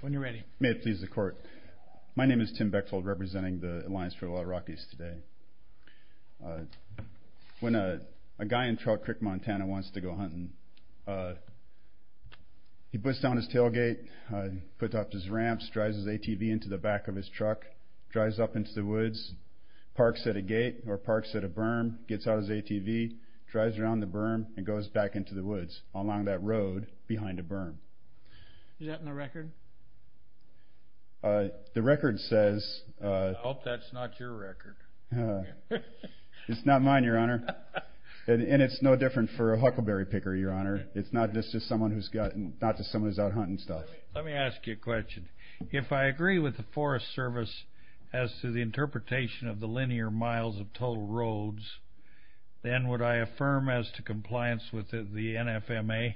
When you're ready. May it please the court. My name is Tim Bechtold, representing the Alliance for the Wild Rockies today. When a guy in Trail Creek, Montana wants to go hunting, he puts down his tailgate, puts up his ramps, drives his ATV into the back of his truck, drives up into the woods, parks at a gate or parks at a berm, gets out his ATV, drives around the berm, and goes back into the woods. along that road behind a berm. Is that in the record? The record says... I hope that's not your record. It's not mine, Your Honor. And it's no different for a huckleberry picker, Your Honor. It's not just someone who's out hunting stuff. Let me ask you a question. If I agree with the Forest Service as to the interpretation of the linear miles of total roads, then would I affirm as to compliance with the NFMA?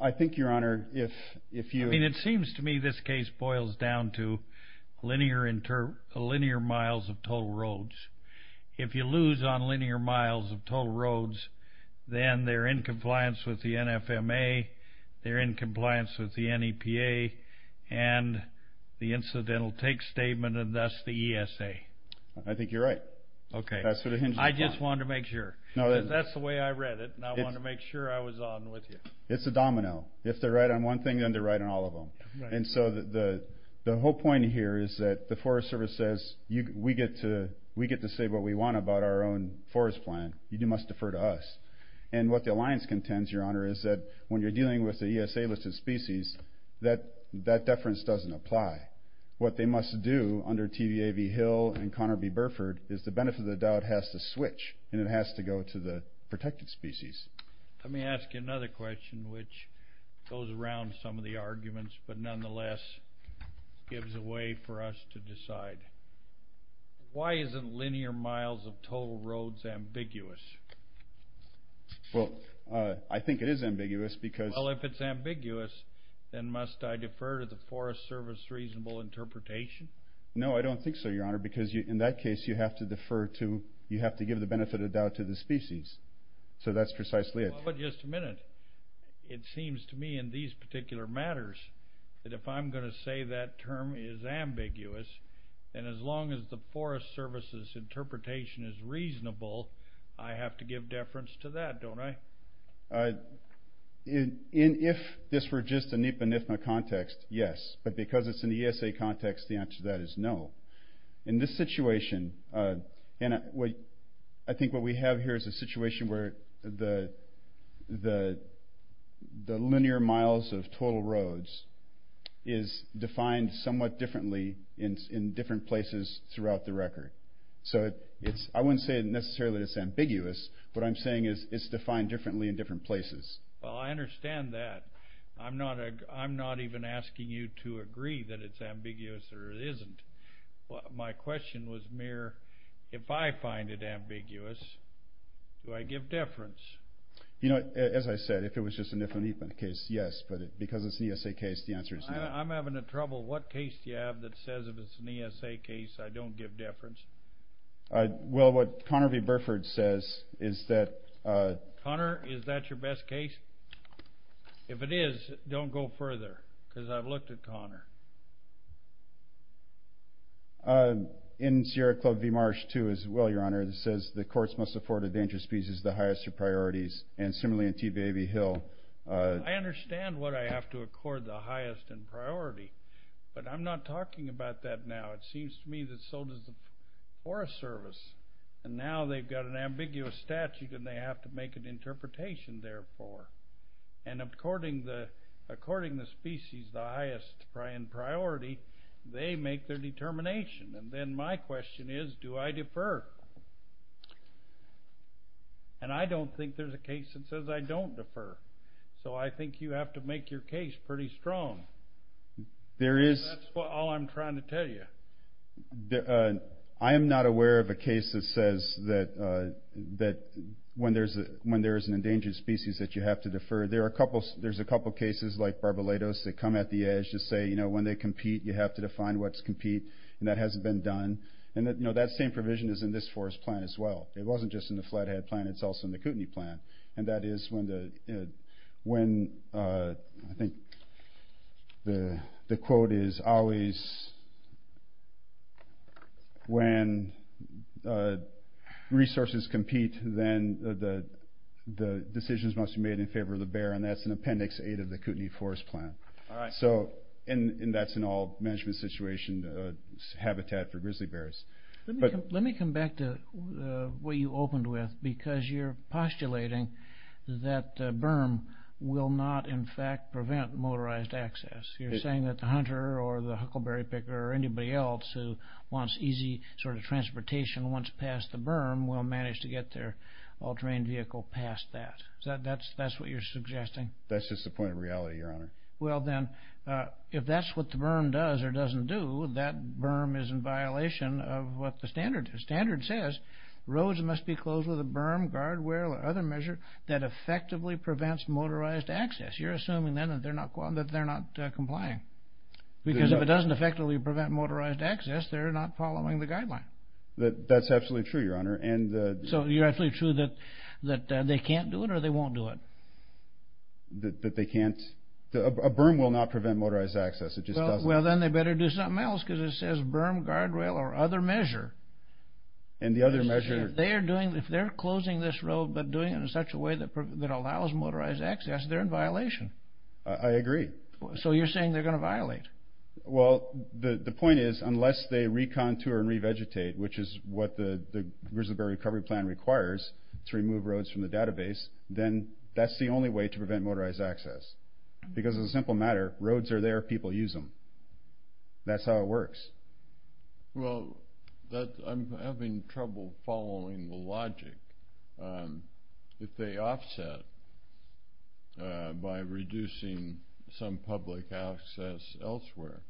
I think, Your Honor, if you... I mean, it seems to me this case boils down to linear miles of total roads. If you lose on linear miles of total roads, then they're in compliance with the NFMA, they're in compliance with the NEPA, and the incidental take statement, and thus the ESA. I think you're right. Okay. I just wanted to make sure. That's the way I read it, and I wanted to make sure I was on with you. It's a domino. If they're right on one thing, then they're right on all of them. And so the whole point here is that the Forest Service says, we get to say what we want about our own forest plan. You must defer to us. And what the Alliance contends, Your Honor, is that when you're dealing with the ESA listed species, that that deference doesn't apply. What they must do under TVA v. Hill and Conner v. Burford is the benefit of the doubt has to switch, and it has to go to the protected species. Let me ask you another question which goes around some of the arguments, but nonetheless gives a way for us to decide. Why isn't linear miles of total roads ambiguous? Well, I think it is ambiguous because... Then must I defer to the Forest Service's reasonable interpretation? No, I don't think so, Your Honor, because in that case you have to give the benefit of doubt to the species. So that's precisely it. Well, but just a minute. It seems to me in these particular matters that if I'm going to say that term is ambiguous, then as long as the Forest Service's interpretation is reasonable, I have to give deference to that, don't I? If this were just a NEPA-NFMA context, yes. But because it's in the ESA context, the answer to that is no. In this situation, I think what we have here is a situation where the linear miles of total roads is defined somewhat differently in different places throughout the record. So I wouldn't say necessarily it's ambiguous. What I'm saying is it's defined differently in different places. Well, I understand that. I'm not even asking you to agree that it's ambiguous or it isn't. My question was mere if I find it ambiguous, do I give deference? You know, as I said, if it was just a NIFA-NFMA case, yes. But because it's an ESA case, the answer is no. I'm having trouble. What case do you have that says if it's an ESA case, I don't give deference? Well, what Conner v. Burford says is that... Conner, is that your best case? If it is, don't go further because I've looked at Conner. In Sierra Club v. Marsh, too, as well, Your Honor, it says the courts must afford a dangerous piece as the highest of priorities. And similarly in TBA v. Hill... I understand what I have to accord the highest in priority, but I'm not talking about that now. It seems to me that so does the Forest Service. And now they've got an ambiguous statute and they have to make an interpretation, therefore. And according to the species, the highest in priority, they make their determination. And then my question is, do I defer? And I don't think there's a case that says I don't defer. So I think you have to make your case pretty strong. There is... That's all I'm trying to tell you. I am not aware of a case that says that when there is an endangered species that you have to defer. There's a couple cases like Barbalatos that come at the edge to say, you know, when they compete, you have to define what's compete, and that hasn't been done. And that same provision is in this forest plan as well. It wasn't just in the Flathead plan. It's also in the Kootenai plan. And that is when, I think the quote is, always when resources compete, then the decisions must be made in favor of the bear. And that's in Appendix 8 of the Kootenai Forest Plan. All right. And that's an all-management situation, habitat for grizzly bears. Let me come back to what you opened with, because you're postulating that berm will not, in fact, prevent motorized access. You're saying that the hunter or the huckleberry picker or anybody else who wants easy sort of transportation once past the berm will manage to get their all-terrain vehicle past that. Is that what you're suggesting? That's just the point of reality, Your Honor. Well, then, if that's what the berm does or doesn't do, that berm is in violation of what the standard is. The standard says roads must be closed with a berm, guardrail, or other measure that effectively prevents motorized access. You're assuming, then, that they're not complying. Because if it doesn't effectively prevent motorized access, they're not following the guideline. That's absolutely true, Your Honor. So you're absolutely true that they can't do it or they won't do it? That they can't. A berm will not prevent motorized access. Well, then, they better do something else because it says berm, guardrail, or other measure. And the other measure? If they're closing this road but doing it in such a way that allows motorized access, they're in violation. I agree. So you're saying they're going to violate? Well, the point is, unless they recontour and revegetate, which is what the Grizzly Bear Recovery Plan requires to remove roads from the database, then that's the only way to prevent motorized access. Because, as a simple matter, roads are there. People use them. That's how it works. Well, I'm having trouble following the logic. If they offset by reducing some public access elsewhere,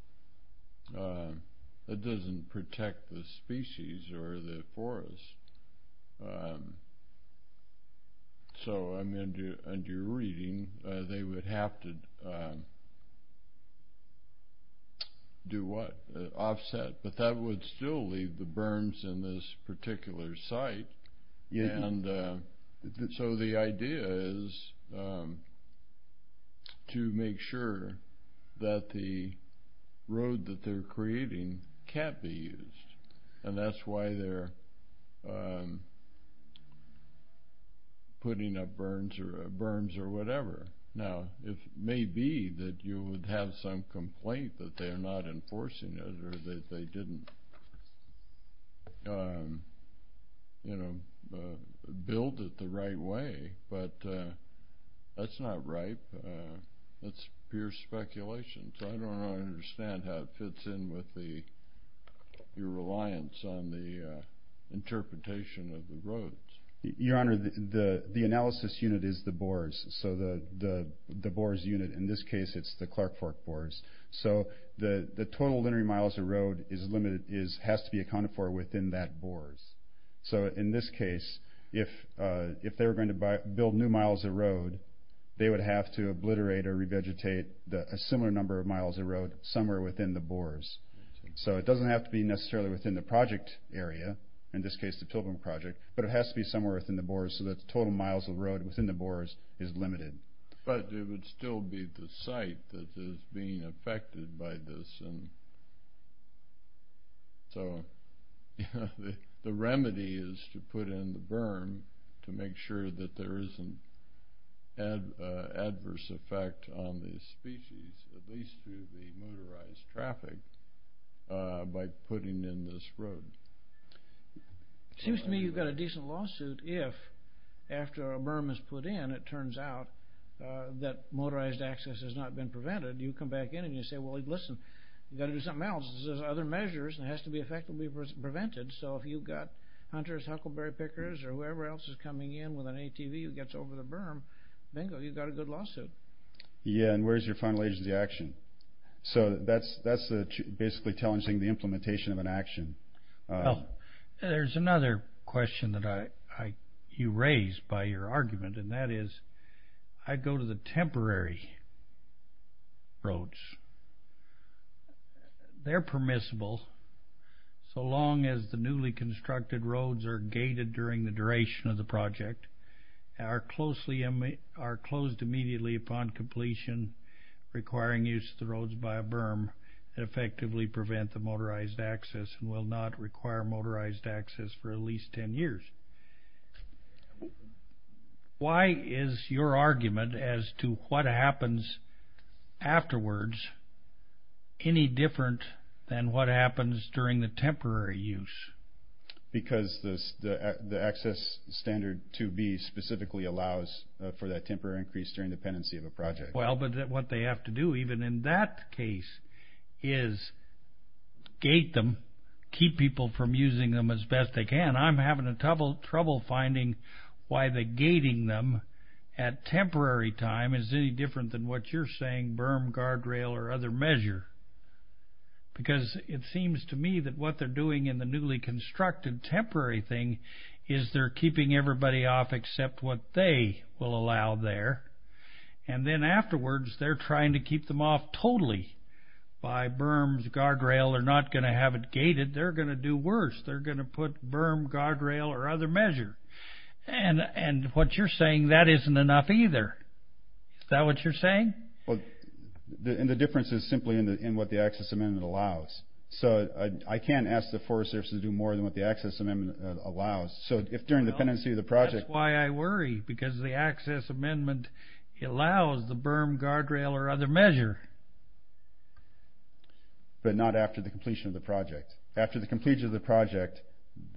that doesn't protect the species or the forest. So I'm under-reading. They would have to do what? Offset. But that would still leave the berms in this particular site. And so the idea is to make sure that the road that they're creating can't be used. And that's why they're putting up berms or whatever. Now, it may be that you would have some complaint that they're not enforcing it or that they didn't build it the right way. But that's not right. That's pure speculation. So I don't understand how it fits in with your reliance on the interpretation of the roads. Your Honor, the analysis unit is the BORS. So the BORS unit, in this case, it's the Clark Fork BORS. So the total linear miles of road has to be accounted for within that BORS. So in this case, if they were going to build new miles of road, they would have to obliterate or revegetate a similar number of miles of road somewhere within the BORS. So it doesn't have to be necessarily within the project area, in this case the Pilbaram Project, but it has to be somewhere within the BORS so that the total miles of road within the BORS is limited. But it would still be the site that is being affected by this. So the remedy is to put in the berm to make sure that there isn't adverse effect on the species, at least through the motorized traffic, by putting in this road. It seems to me you've got a decent lawsuit if, after a berm is put in, it turns out that motorized access has not been prevented. You come back in and you say, well, listen, you've got to do something else. There's other measures that have to be effectively prevented. So if you've got hunters, huckleberry pickers, or whoever else is coming in with an ATV that gets over the berm, bingo, you've got a good lawsuit. Yeah, and where's your final agency action? So that's basically challenging the implementation of an action. There's another question that you raised by your argument, and that is I go to the temporary roads. They're permissible so long as the newly constructed roads are gated during the duration of the project, are closed immediately upon completion, requiring use of the roads by a berm that effectively prevent the motorized access and will not require motorized access for at least ten years. Why is your argument as to what happens afterwards any different than what happens during the temporary use? Because the access standard 2B specifically allows for that temporary increase during the pendency of a project. Well, but what they have to do, even in that case, is gate them, keep people from using them as best they can. And I'm having trouble finding why the gating them at temporary time is any different than what you're saying, berm, guardrail, or other measure. Because it seems to me that what they're doing in the newly constructed temporary thing is they're keeping everybody off except what they will allow there. And then afterwards, they're trying to keep them off totally by berms, guardrail. They're not going to have it gated. They're going to do worse. They're going to put berm, guardrail, or other measure. And what you're saying, that isn't enough either. Is that what you're saying? Well, and the difference is simply in what the access amendment allows. So I can't ask the Forest Service to do more than what the access amendment allows. So if during the pendency of the project... That's why I worry, because the access amendment allows the berm, guardrail, or other measure. But not after the completion of the project. After the completion of the project,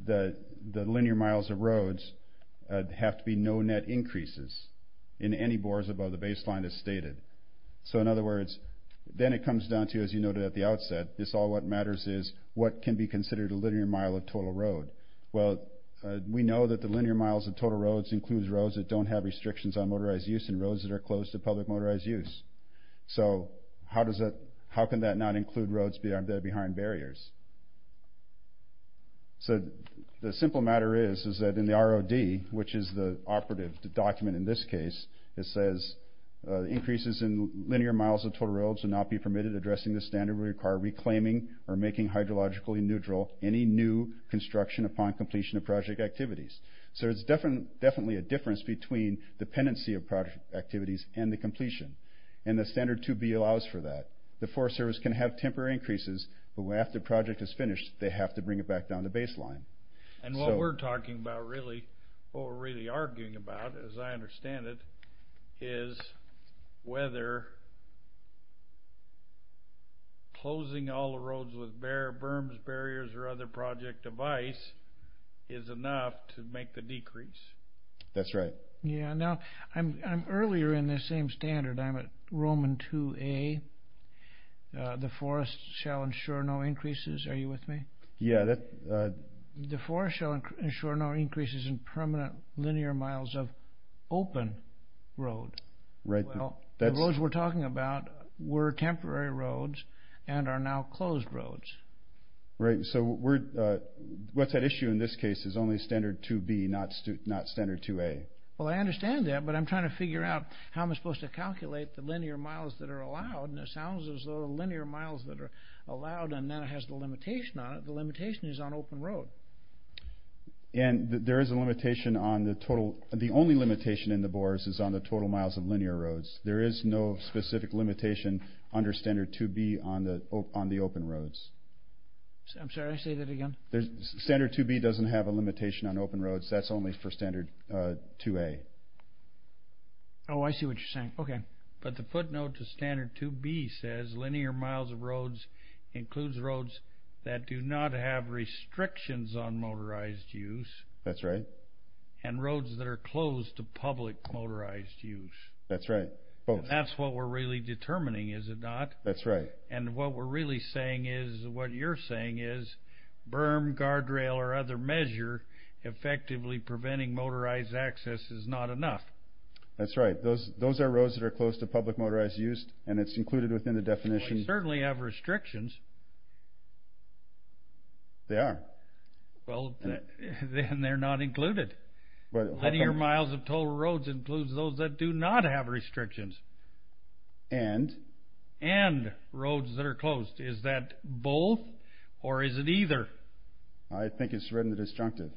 the linear miles of roads have to be no net increases in any bores above the baseline as stated. So in other words, then it comes down to, as you noted at the outset, it's all what matters is what can be considered a linear mile of total road. Well, we know that the linear miles of total roads includes roads that don't have restrictions on motorized use and roads that are closed to public motorized use. So how can that not include roads that are behind barriers? So the simple matter is, is that in the ROD, which is the operative document in this case, it says, increases in linear miles of total roads will not be permitted. Addressing this standard will require reclaiming or making hydrologically neutral any new construction upon completion of project activities. So there's definitely a difference between the pendency of project activities and the completion, and the standard 2B allows for that. The Forest Service can have temporary increases, but after the project is finished, they have to bring it back down to baseline. And what we're talking about really, what we're really arguing about, as I understand it, is whether closing all the roads with berms, barriers, or other project device is enough to make the decrease. That's right. Yeah, now I'm earlier in this same standard. I'm at Roman 2A. The forest shall ensure no increases. Are you with me? Yeah. The forest shall ensure no increases in permanent linear miles of open road. Well, the roads we're talking about were temporary roads and are now closed roads. Right, so what's at issue in this case is only standard 2B, not standard 2A. Well, I understand that, but I'm trying to figure out how I'm supposed to calculate the linear miles that are allowed, and it sounds as though the linear miles that are allowed, and that has the limitation on it, the limitation is on open road. And there is a limitation on the total. The only limitation in the BORS is on the total miles of linear roads. There is no specific limitation under standard 2B on the open roads. I'm sorry, say that again. Standard 2B doesn't have a limitation on open roads. That's only for standard 2A. Oh, I see what you're saying. Okay. But the footnote to standard 2B says linear miles of roads includes roads that do not have restrictions on motorized use. That's right. And roads that are closed to public motorized use. That's right. That's what we're really determining, is it not? That's right. And what we're really saying is, what you're saying is, berm, guardrail, or other measure effectively preventing motorized access is not enough. That's right. Those are roads that are closed to public motorized use, and it's included within the definition. They certainly have restrictions. They are. Well, then they're not included. Linear miles of total roads includes those that do not have restrictions. And? And roads that are closed. Is that both, or is it either? I think it's written in the disjunctive.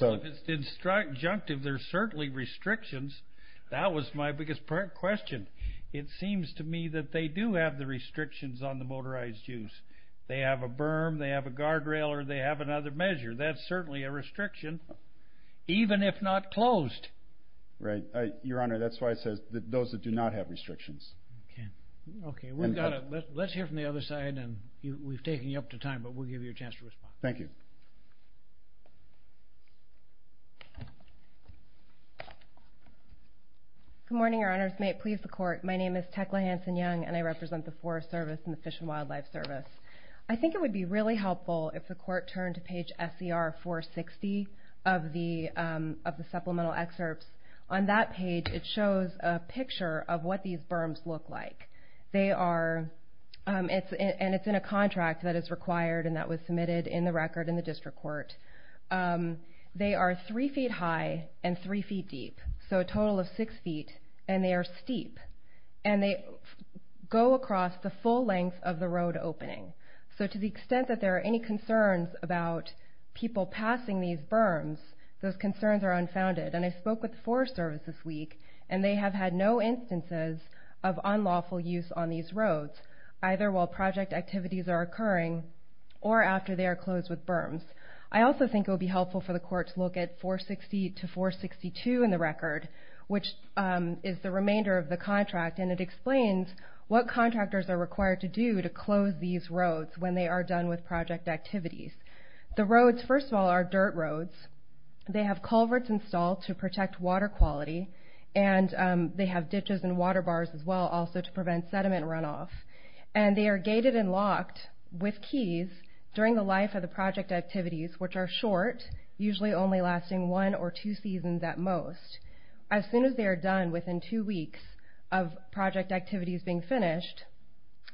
Well, if it's disjunctive, there's certainly restrictions. That was my biggest question. It seems to me that they do have the restrictions on the motorized use. They have a berm, they have a guardrail, or they have another measure. That's certainly a restriction, even if not closed. Right. Your Honor, that's why it says those that do not have restrictions. Okay. Let's hear from the other side, and we've taken you up to time, but we'll give you a chance to respond. Thank you. Good morning, Your Honors. May it please the Court. My name is Tecla Hanson-Young, and I represent the Forest Service and the Fish and Wildlife Service. I think it would be really helpful if the Court turned to page SCR 460 of the supplemental excerpts. On that page, it shows a picture of what these berms look like. And it's in a contract that is required and that was submitted in the record in the district court. They are three feet high and three feet deep, so a total of six feet, and they are steep. And they go across the full length of the road opening. So to the extent that there are any concerns about people passing these berms, those concerns are unfounded. And I spoke with the Forest Service this week, and they have had no instances of unlawful use on these roads, either while project activities are occurring or after they are closed with berms. I also think it would be helpful for the Court to look at 460 to 462 in the record, which is the remainder of the contract, and it explains what contractors are required to do to close these roads when they are done with project activities. The roads, first of all, are dirt roads. They have culverts installed to protect water quality, and they have ditches and water bars as well also to prevent sediment runoff. And they are gated and locked with keys during the life of the project activities, which are short, usually only lasting one or two seasons at most. As soon as they are done within two weeks of project activities being finished,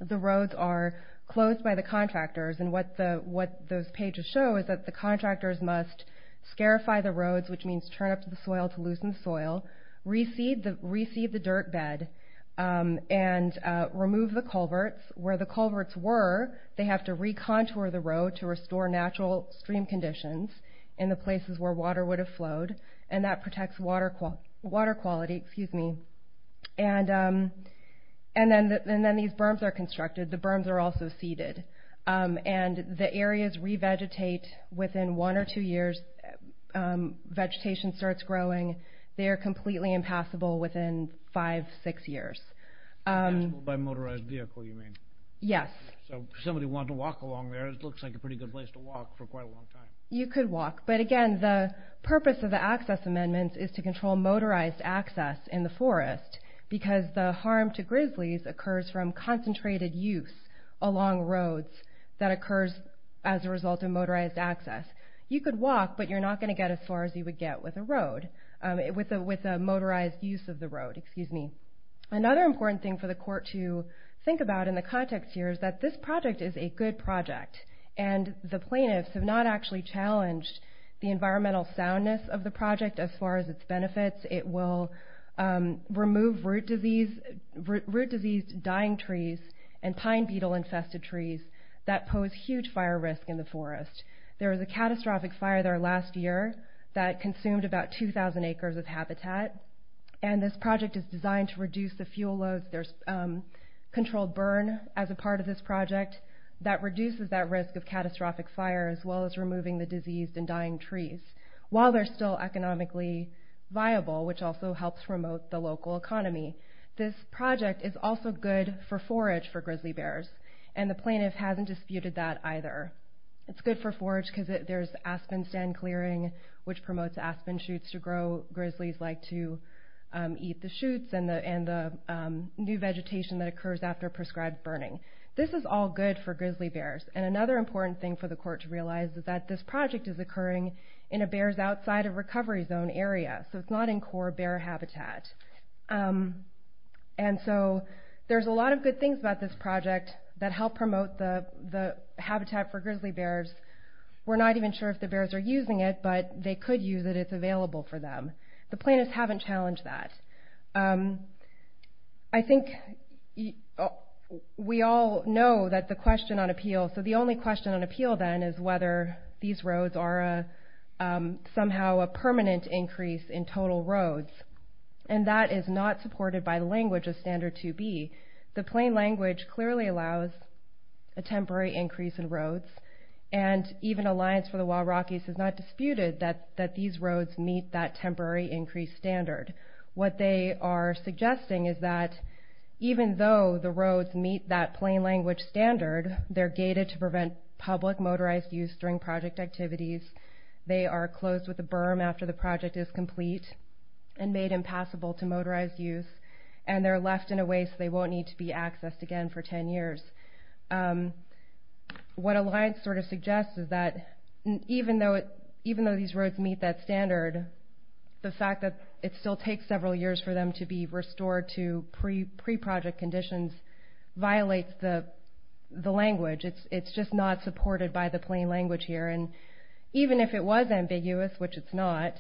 the roads are closed by the contractors. And what those pages show is that the contractors must scarify the roads, which means turn up the soil to loosen the soil, reseed the dirt bed, and remove the culverts. Where the culverts were, they have to recontour the road to restore natural stream conditions in the places where water would have flowed, and that protects water quality. And then these berms are constructed. The berms are also seeded. And the areas revegetate within one or two years. Vegetation starts growing. They are completely impassable within five, six years. Impassable by motorized vehicle, you mean? Yes. So if somebody wanted to walk along there, it looks like a pretty good place to walk for quite a long time. You could walk. But again, the purpose of the access amendments is to control motorized access in the forest because the harm to grizzlies occurs from concentrated use along roads that occurs as a result of motorized access. You could walk, but you're not going to get as far as you would get with a road, with a motorized use of the road. Another important thing for the court to think about in the context here is that this project is a good project, and the plaintiffs have not actually challenged the environmental soundness of the project as far as its benefits. It will remove root-diseased dying trees and pine beetle-infested trees that pose huge fire risk in the forest. There was a catastrophic fire there last year that consumed about 2,000 acres of habitat, and this project is designed to reduce the fuel loads. There's controlled burn as a part of this project that reduces that risk of catastrophic fire as well as removing the diseased and dying trees. While they're still economically viable, which also helps promote the local economy, this project is also good for forage for grizzly bears, and the plaintiff hasn't disputed that either. It's good for forage because there's aspen stand clearing, which promotes aspen shoots to grow. Grizzlies like to eat the shoots and the new vegetation that occurs after prescribed burning. This is all good for grizzly bears, and another important thing for the court to realize is that this project is occurring in a bears-outside-of-recovery-zone area, so it's not in core bear habitat. And so there's a lot of good things about this project that help promote the habitat for grizzly bears. We're not even sure if the bears are using it, but they could use it. It's available for them. The plaintiffs haven't challenged that. I think we all know that the question on appeal... these roads are somehow a permanent increase in total roads, and that is not supported by the language of Standard 2B. The plain language clearly allows a temporary increase in roads, and even Alliance for the Wild Rockies has not disputed that these roads meet that temporary increase standard. What they are suggesting is that even though the roads meet that plain language standard, they're gated to prevent public motorized use during project activities, they are closed with a berm after the project is complete and made impassable to motorized use, and they're left in a way so they won't need to be accessed again for 10 years. What Alliance sort of suggests is that even though these roads meet that standard, the fact that it still takes several years for them to be restored to pre-project conditions violates the language. It's just not supported by the plain language here, and even if it was ambiguous, which it's not,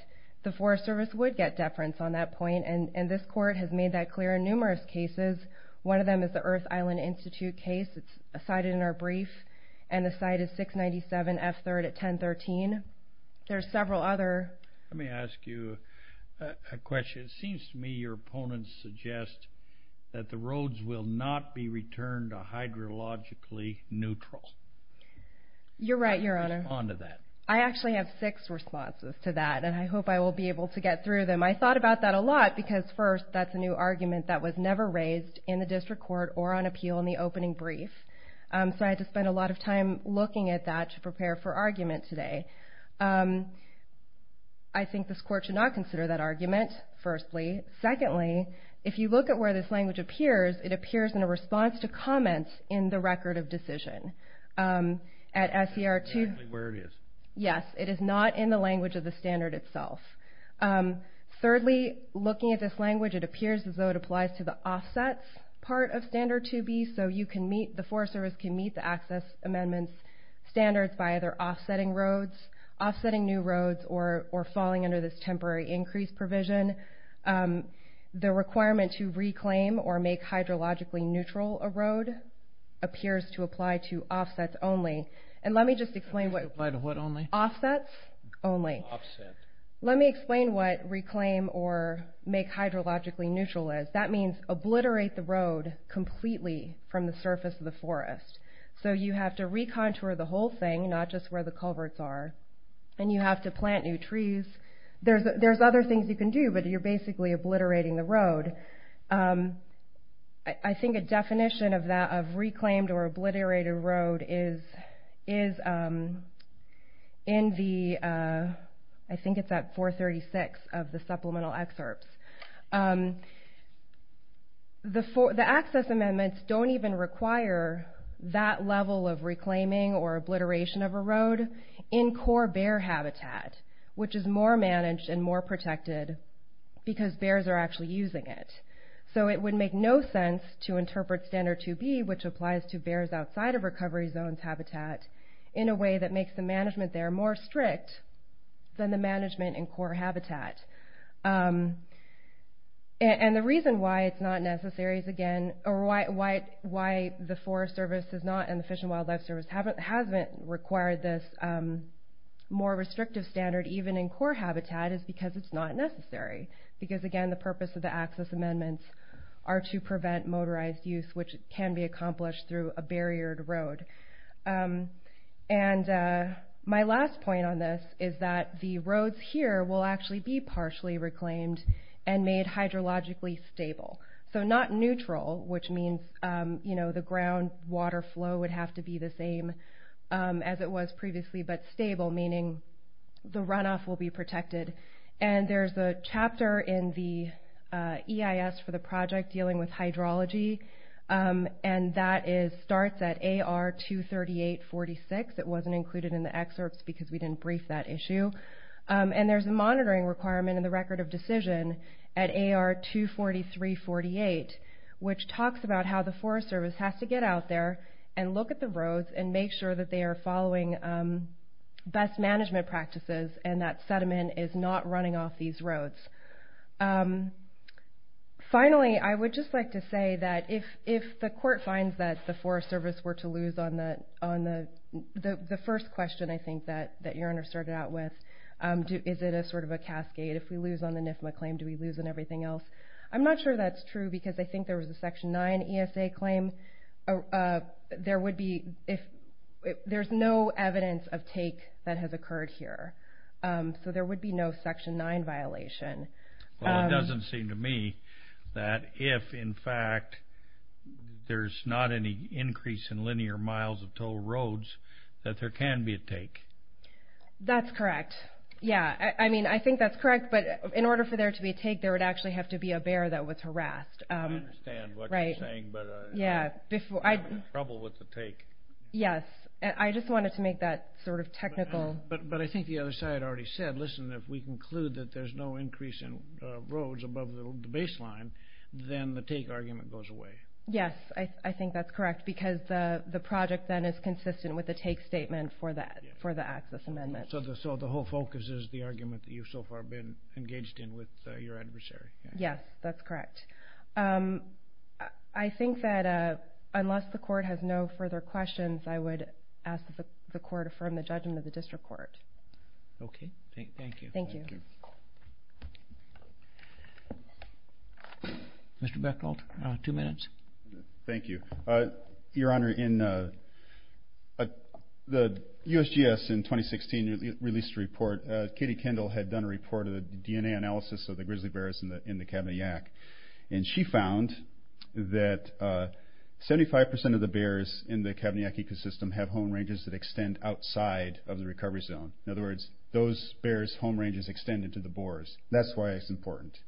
the Forest Service would get deference on that point, and this court has made that clear in numerous cases. One of them is the Earth Island Institute case. It's cited in our brief, and the site is 697 F3rd at 1013. There are several other... Let me ask you a question. It seems to me your opponents suggest that the roads will not be returned to hydrologically neutral. You're right, Your Honor. I actually have six responses to that, and I hope I will be able to get through them. I thought about that a lot because, first, that's a new argument that was never raised in the district court or on appeal in the opening brief, so I had to spend a lot of time looking at that to prepare for argument today. I think this court should not consider that argument, firstly. Secondly, if you look at where this language appears, it appears in a response to comments in the record of decision. At SER 2... Exactly where it is. Yes, it is not in the language of the standard itself. Thirdly, looking at this language, it appears as though it applies to the offsets part of Standard 2B, so the Forest Service can meet the access amendments standards by either offsetting roads, offsetting new roads, or falling under this temporary increase provision. The requirement to reclaim or make hydrologically neutral a road appears to apply to offsets only. And let me just explain what... Apply to what only? Offsets only. Offset. Let me explain what reclaim or make hydrologically neutral is. That means obliterate the road completely from the surface of the forest. So you have to recontour the whole thing, not just where the culverts are, and you have to plant new trees. There's other things you can do, but you're basically obliterating the road. I think a definition of that, of reclaimed or obliterated road, is in the... I think it's at 436 of the supplemental excerpts. The access amendments don't even require that level of reclaiming or obliteration of a road in core bear habitat, which is more managed and more protected because bears are actually using it. So it would make no sense to interpret Standard 2B, which applies to bears outside of recovery zones habitat, in a way that makes the management there more strict than the management in core habitat. And the reason why it's not necessary is, again, or why the Forest Service and the Fish and Wildlife Service haven't required this more restrictive standard even in core habitat is because it's not necessary. Because, again, the purpose of the access amendments are to prevent motorized use, which can be accomplished through a barriered road. And my last point on this is that the roads here will actually be partially reclaimed and made hydrologically stable. So not neutral, which means the ground water flow would have to be the same as it was previously, but stable, meaning the runoff will be protected. And there's a chapter in the EIS for the project dealing with hydrology, and that starts at AR 238-46. It wasn't included in the excerpts because we didn't brief that issue. And there's a monitoring requirement in the record of decision at AR 243-48, which talks about how the Forest Service has to get out there and look at the roads and make sure that they are following best management practices and that sediment is not running off these roads. Finally, I would just like to say that if the court finds that the Forest Service were to lose on the first question, I think, that your Honor started out with, is it a sort of a cascade? If we lose on the NIFMA claim, do we lose on everything else? I'm not sure that's true because I think there was a Section 9 ESA claim. There's no evidence of take that has occurred here. So there would be no Section 9 violation. Well, it doesn't seem to me that if, in fact, there's not any increase in linear miles of toll roads, that there can be a take. That's correct. Yeah, I mean, I think that's correct. But in order for there to be a take, there would actually have to be a bear that was harassed. I understand what you're saying, but you're having trouble with the take. Yes, I just wanted to make that sort of technical. But I think the other side already said, listen, if we conclude that there's no increase in roads above the baseline, Yes, I think that's correct because the project, then, is consistent with the take statement for the access amendment. So the whole focus is the argument that you've so far been engaged in with your adversary. Yes, that's correct. I think that unless the Court has no further questions, I would ask that the Court affirm the judgment of the District Court. Okay, thank you. Thank you. Mr. Beckold, two minutes. Thank you. Your Honor, the USGS, in 2016, released a report. Katie Kendall had done a report of the DNA analysis of the grizzly bears in the Kabanayak. And she found that 75% of the bears in the Kabanayak ecosystem have home ranges that extend outside of the recovery zone. In other words, those bears' home ranges extend into the boars. That's why it's important.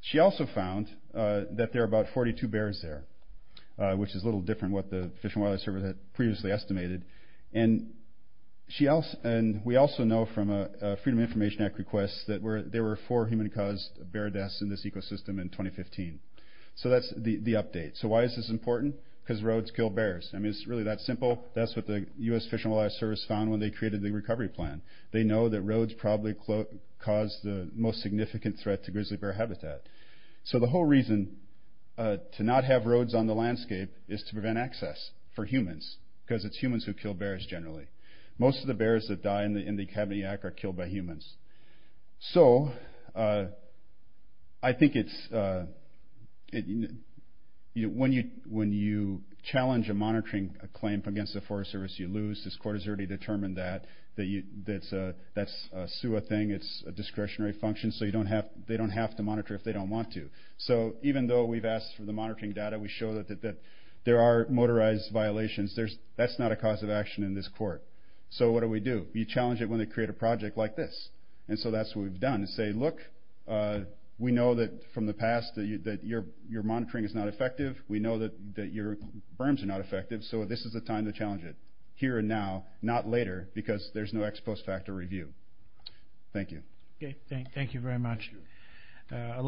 She also found that there are about 42 bears there, which is a little different from what the Fish and Wildlife Service had previously estimated. And we also know from a Freedom of Information Act request that there were four human-caused bear deaths in this ecosystem in 2015. So that's the update. So why is this important? Because roads kill bears. I mean, it's really that simple. That's what the US Fish and Wildlife Service found when they created the recovery plan. They know that roads probably cause the most significant threat to grizzly bear habitat. So the whole reason to not have roads on the landscape is to prevent access for humans, because it's humans who kill bears generally. Most of the bears that die in the Kabanayak are killed by humans. So I think when you challenge a monitoring claim against the Forest Service, you lose. This court has already determined that. That's a SUA thing. It's a discretionary function, so they don't have to monitor if they don't want to. So even though we've asked for the monitoring data, we show that there are motorized violations. That's not a cause of action in this court. So what do we do? We challenge it when they create a project like this. And so that's what we've done, is say, Look, we know that from the past that your monitoring is not effective. We know that your berms are not effective, so this is the time to challenge it. Here and now, not later, because there's no ex post facto review. Thank you. Thank you very much. I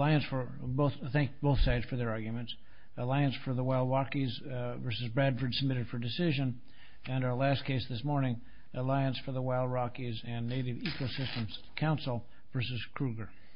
thank both sides for their arguments. Alliance for the Wild Rockies v. Bradford submitted for decision. And our last case this morning, Alliance for the Wild Rockies and Native Ecosystems Council v. Kruger.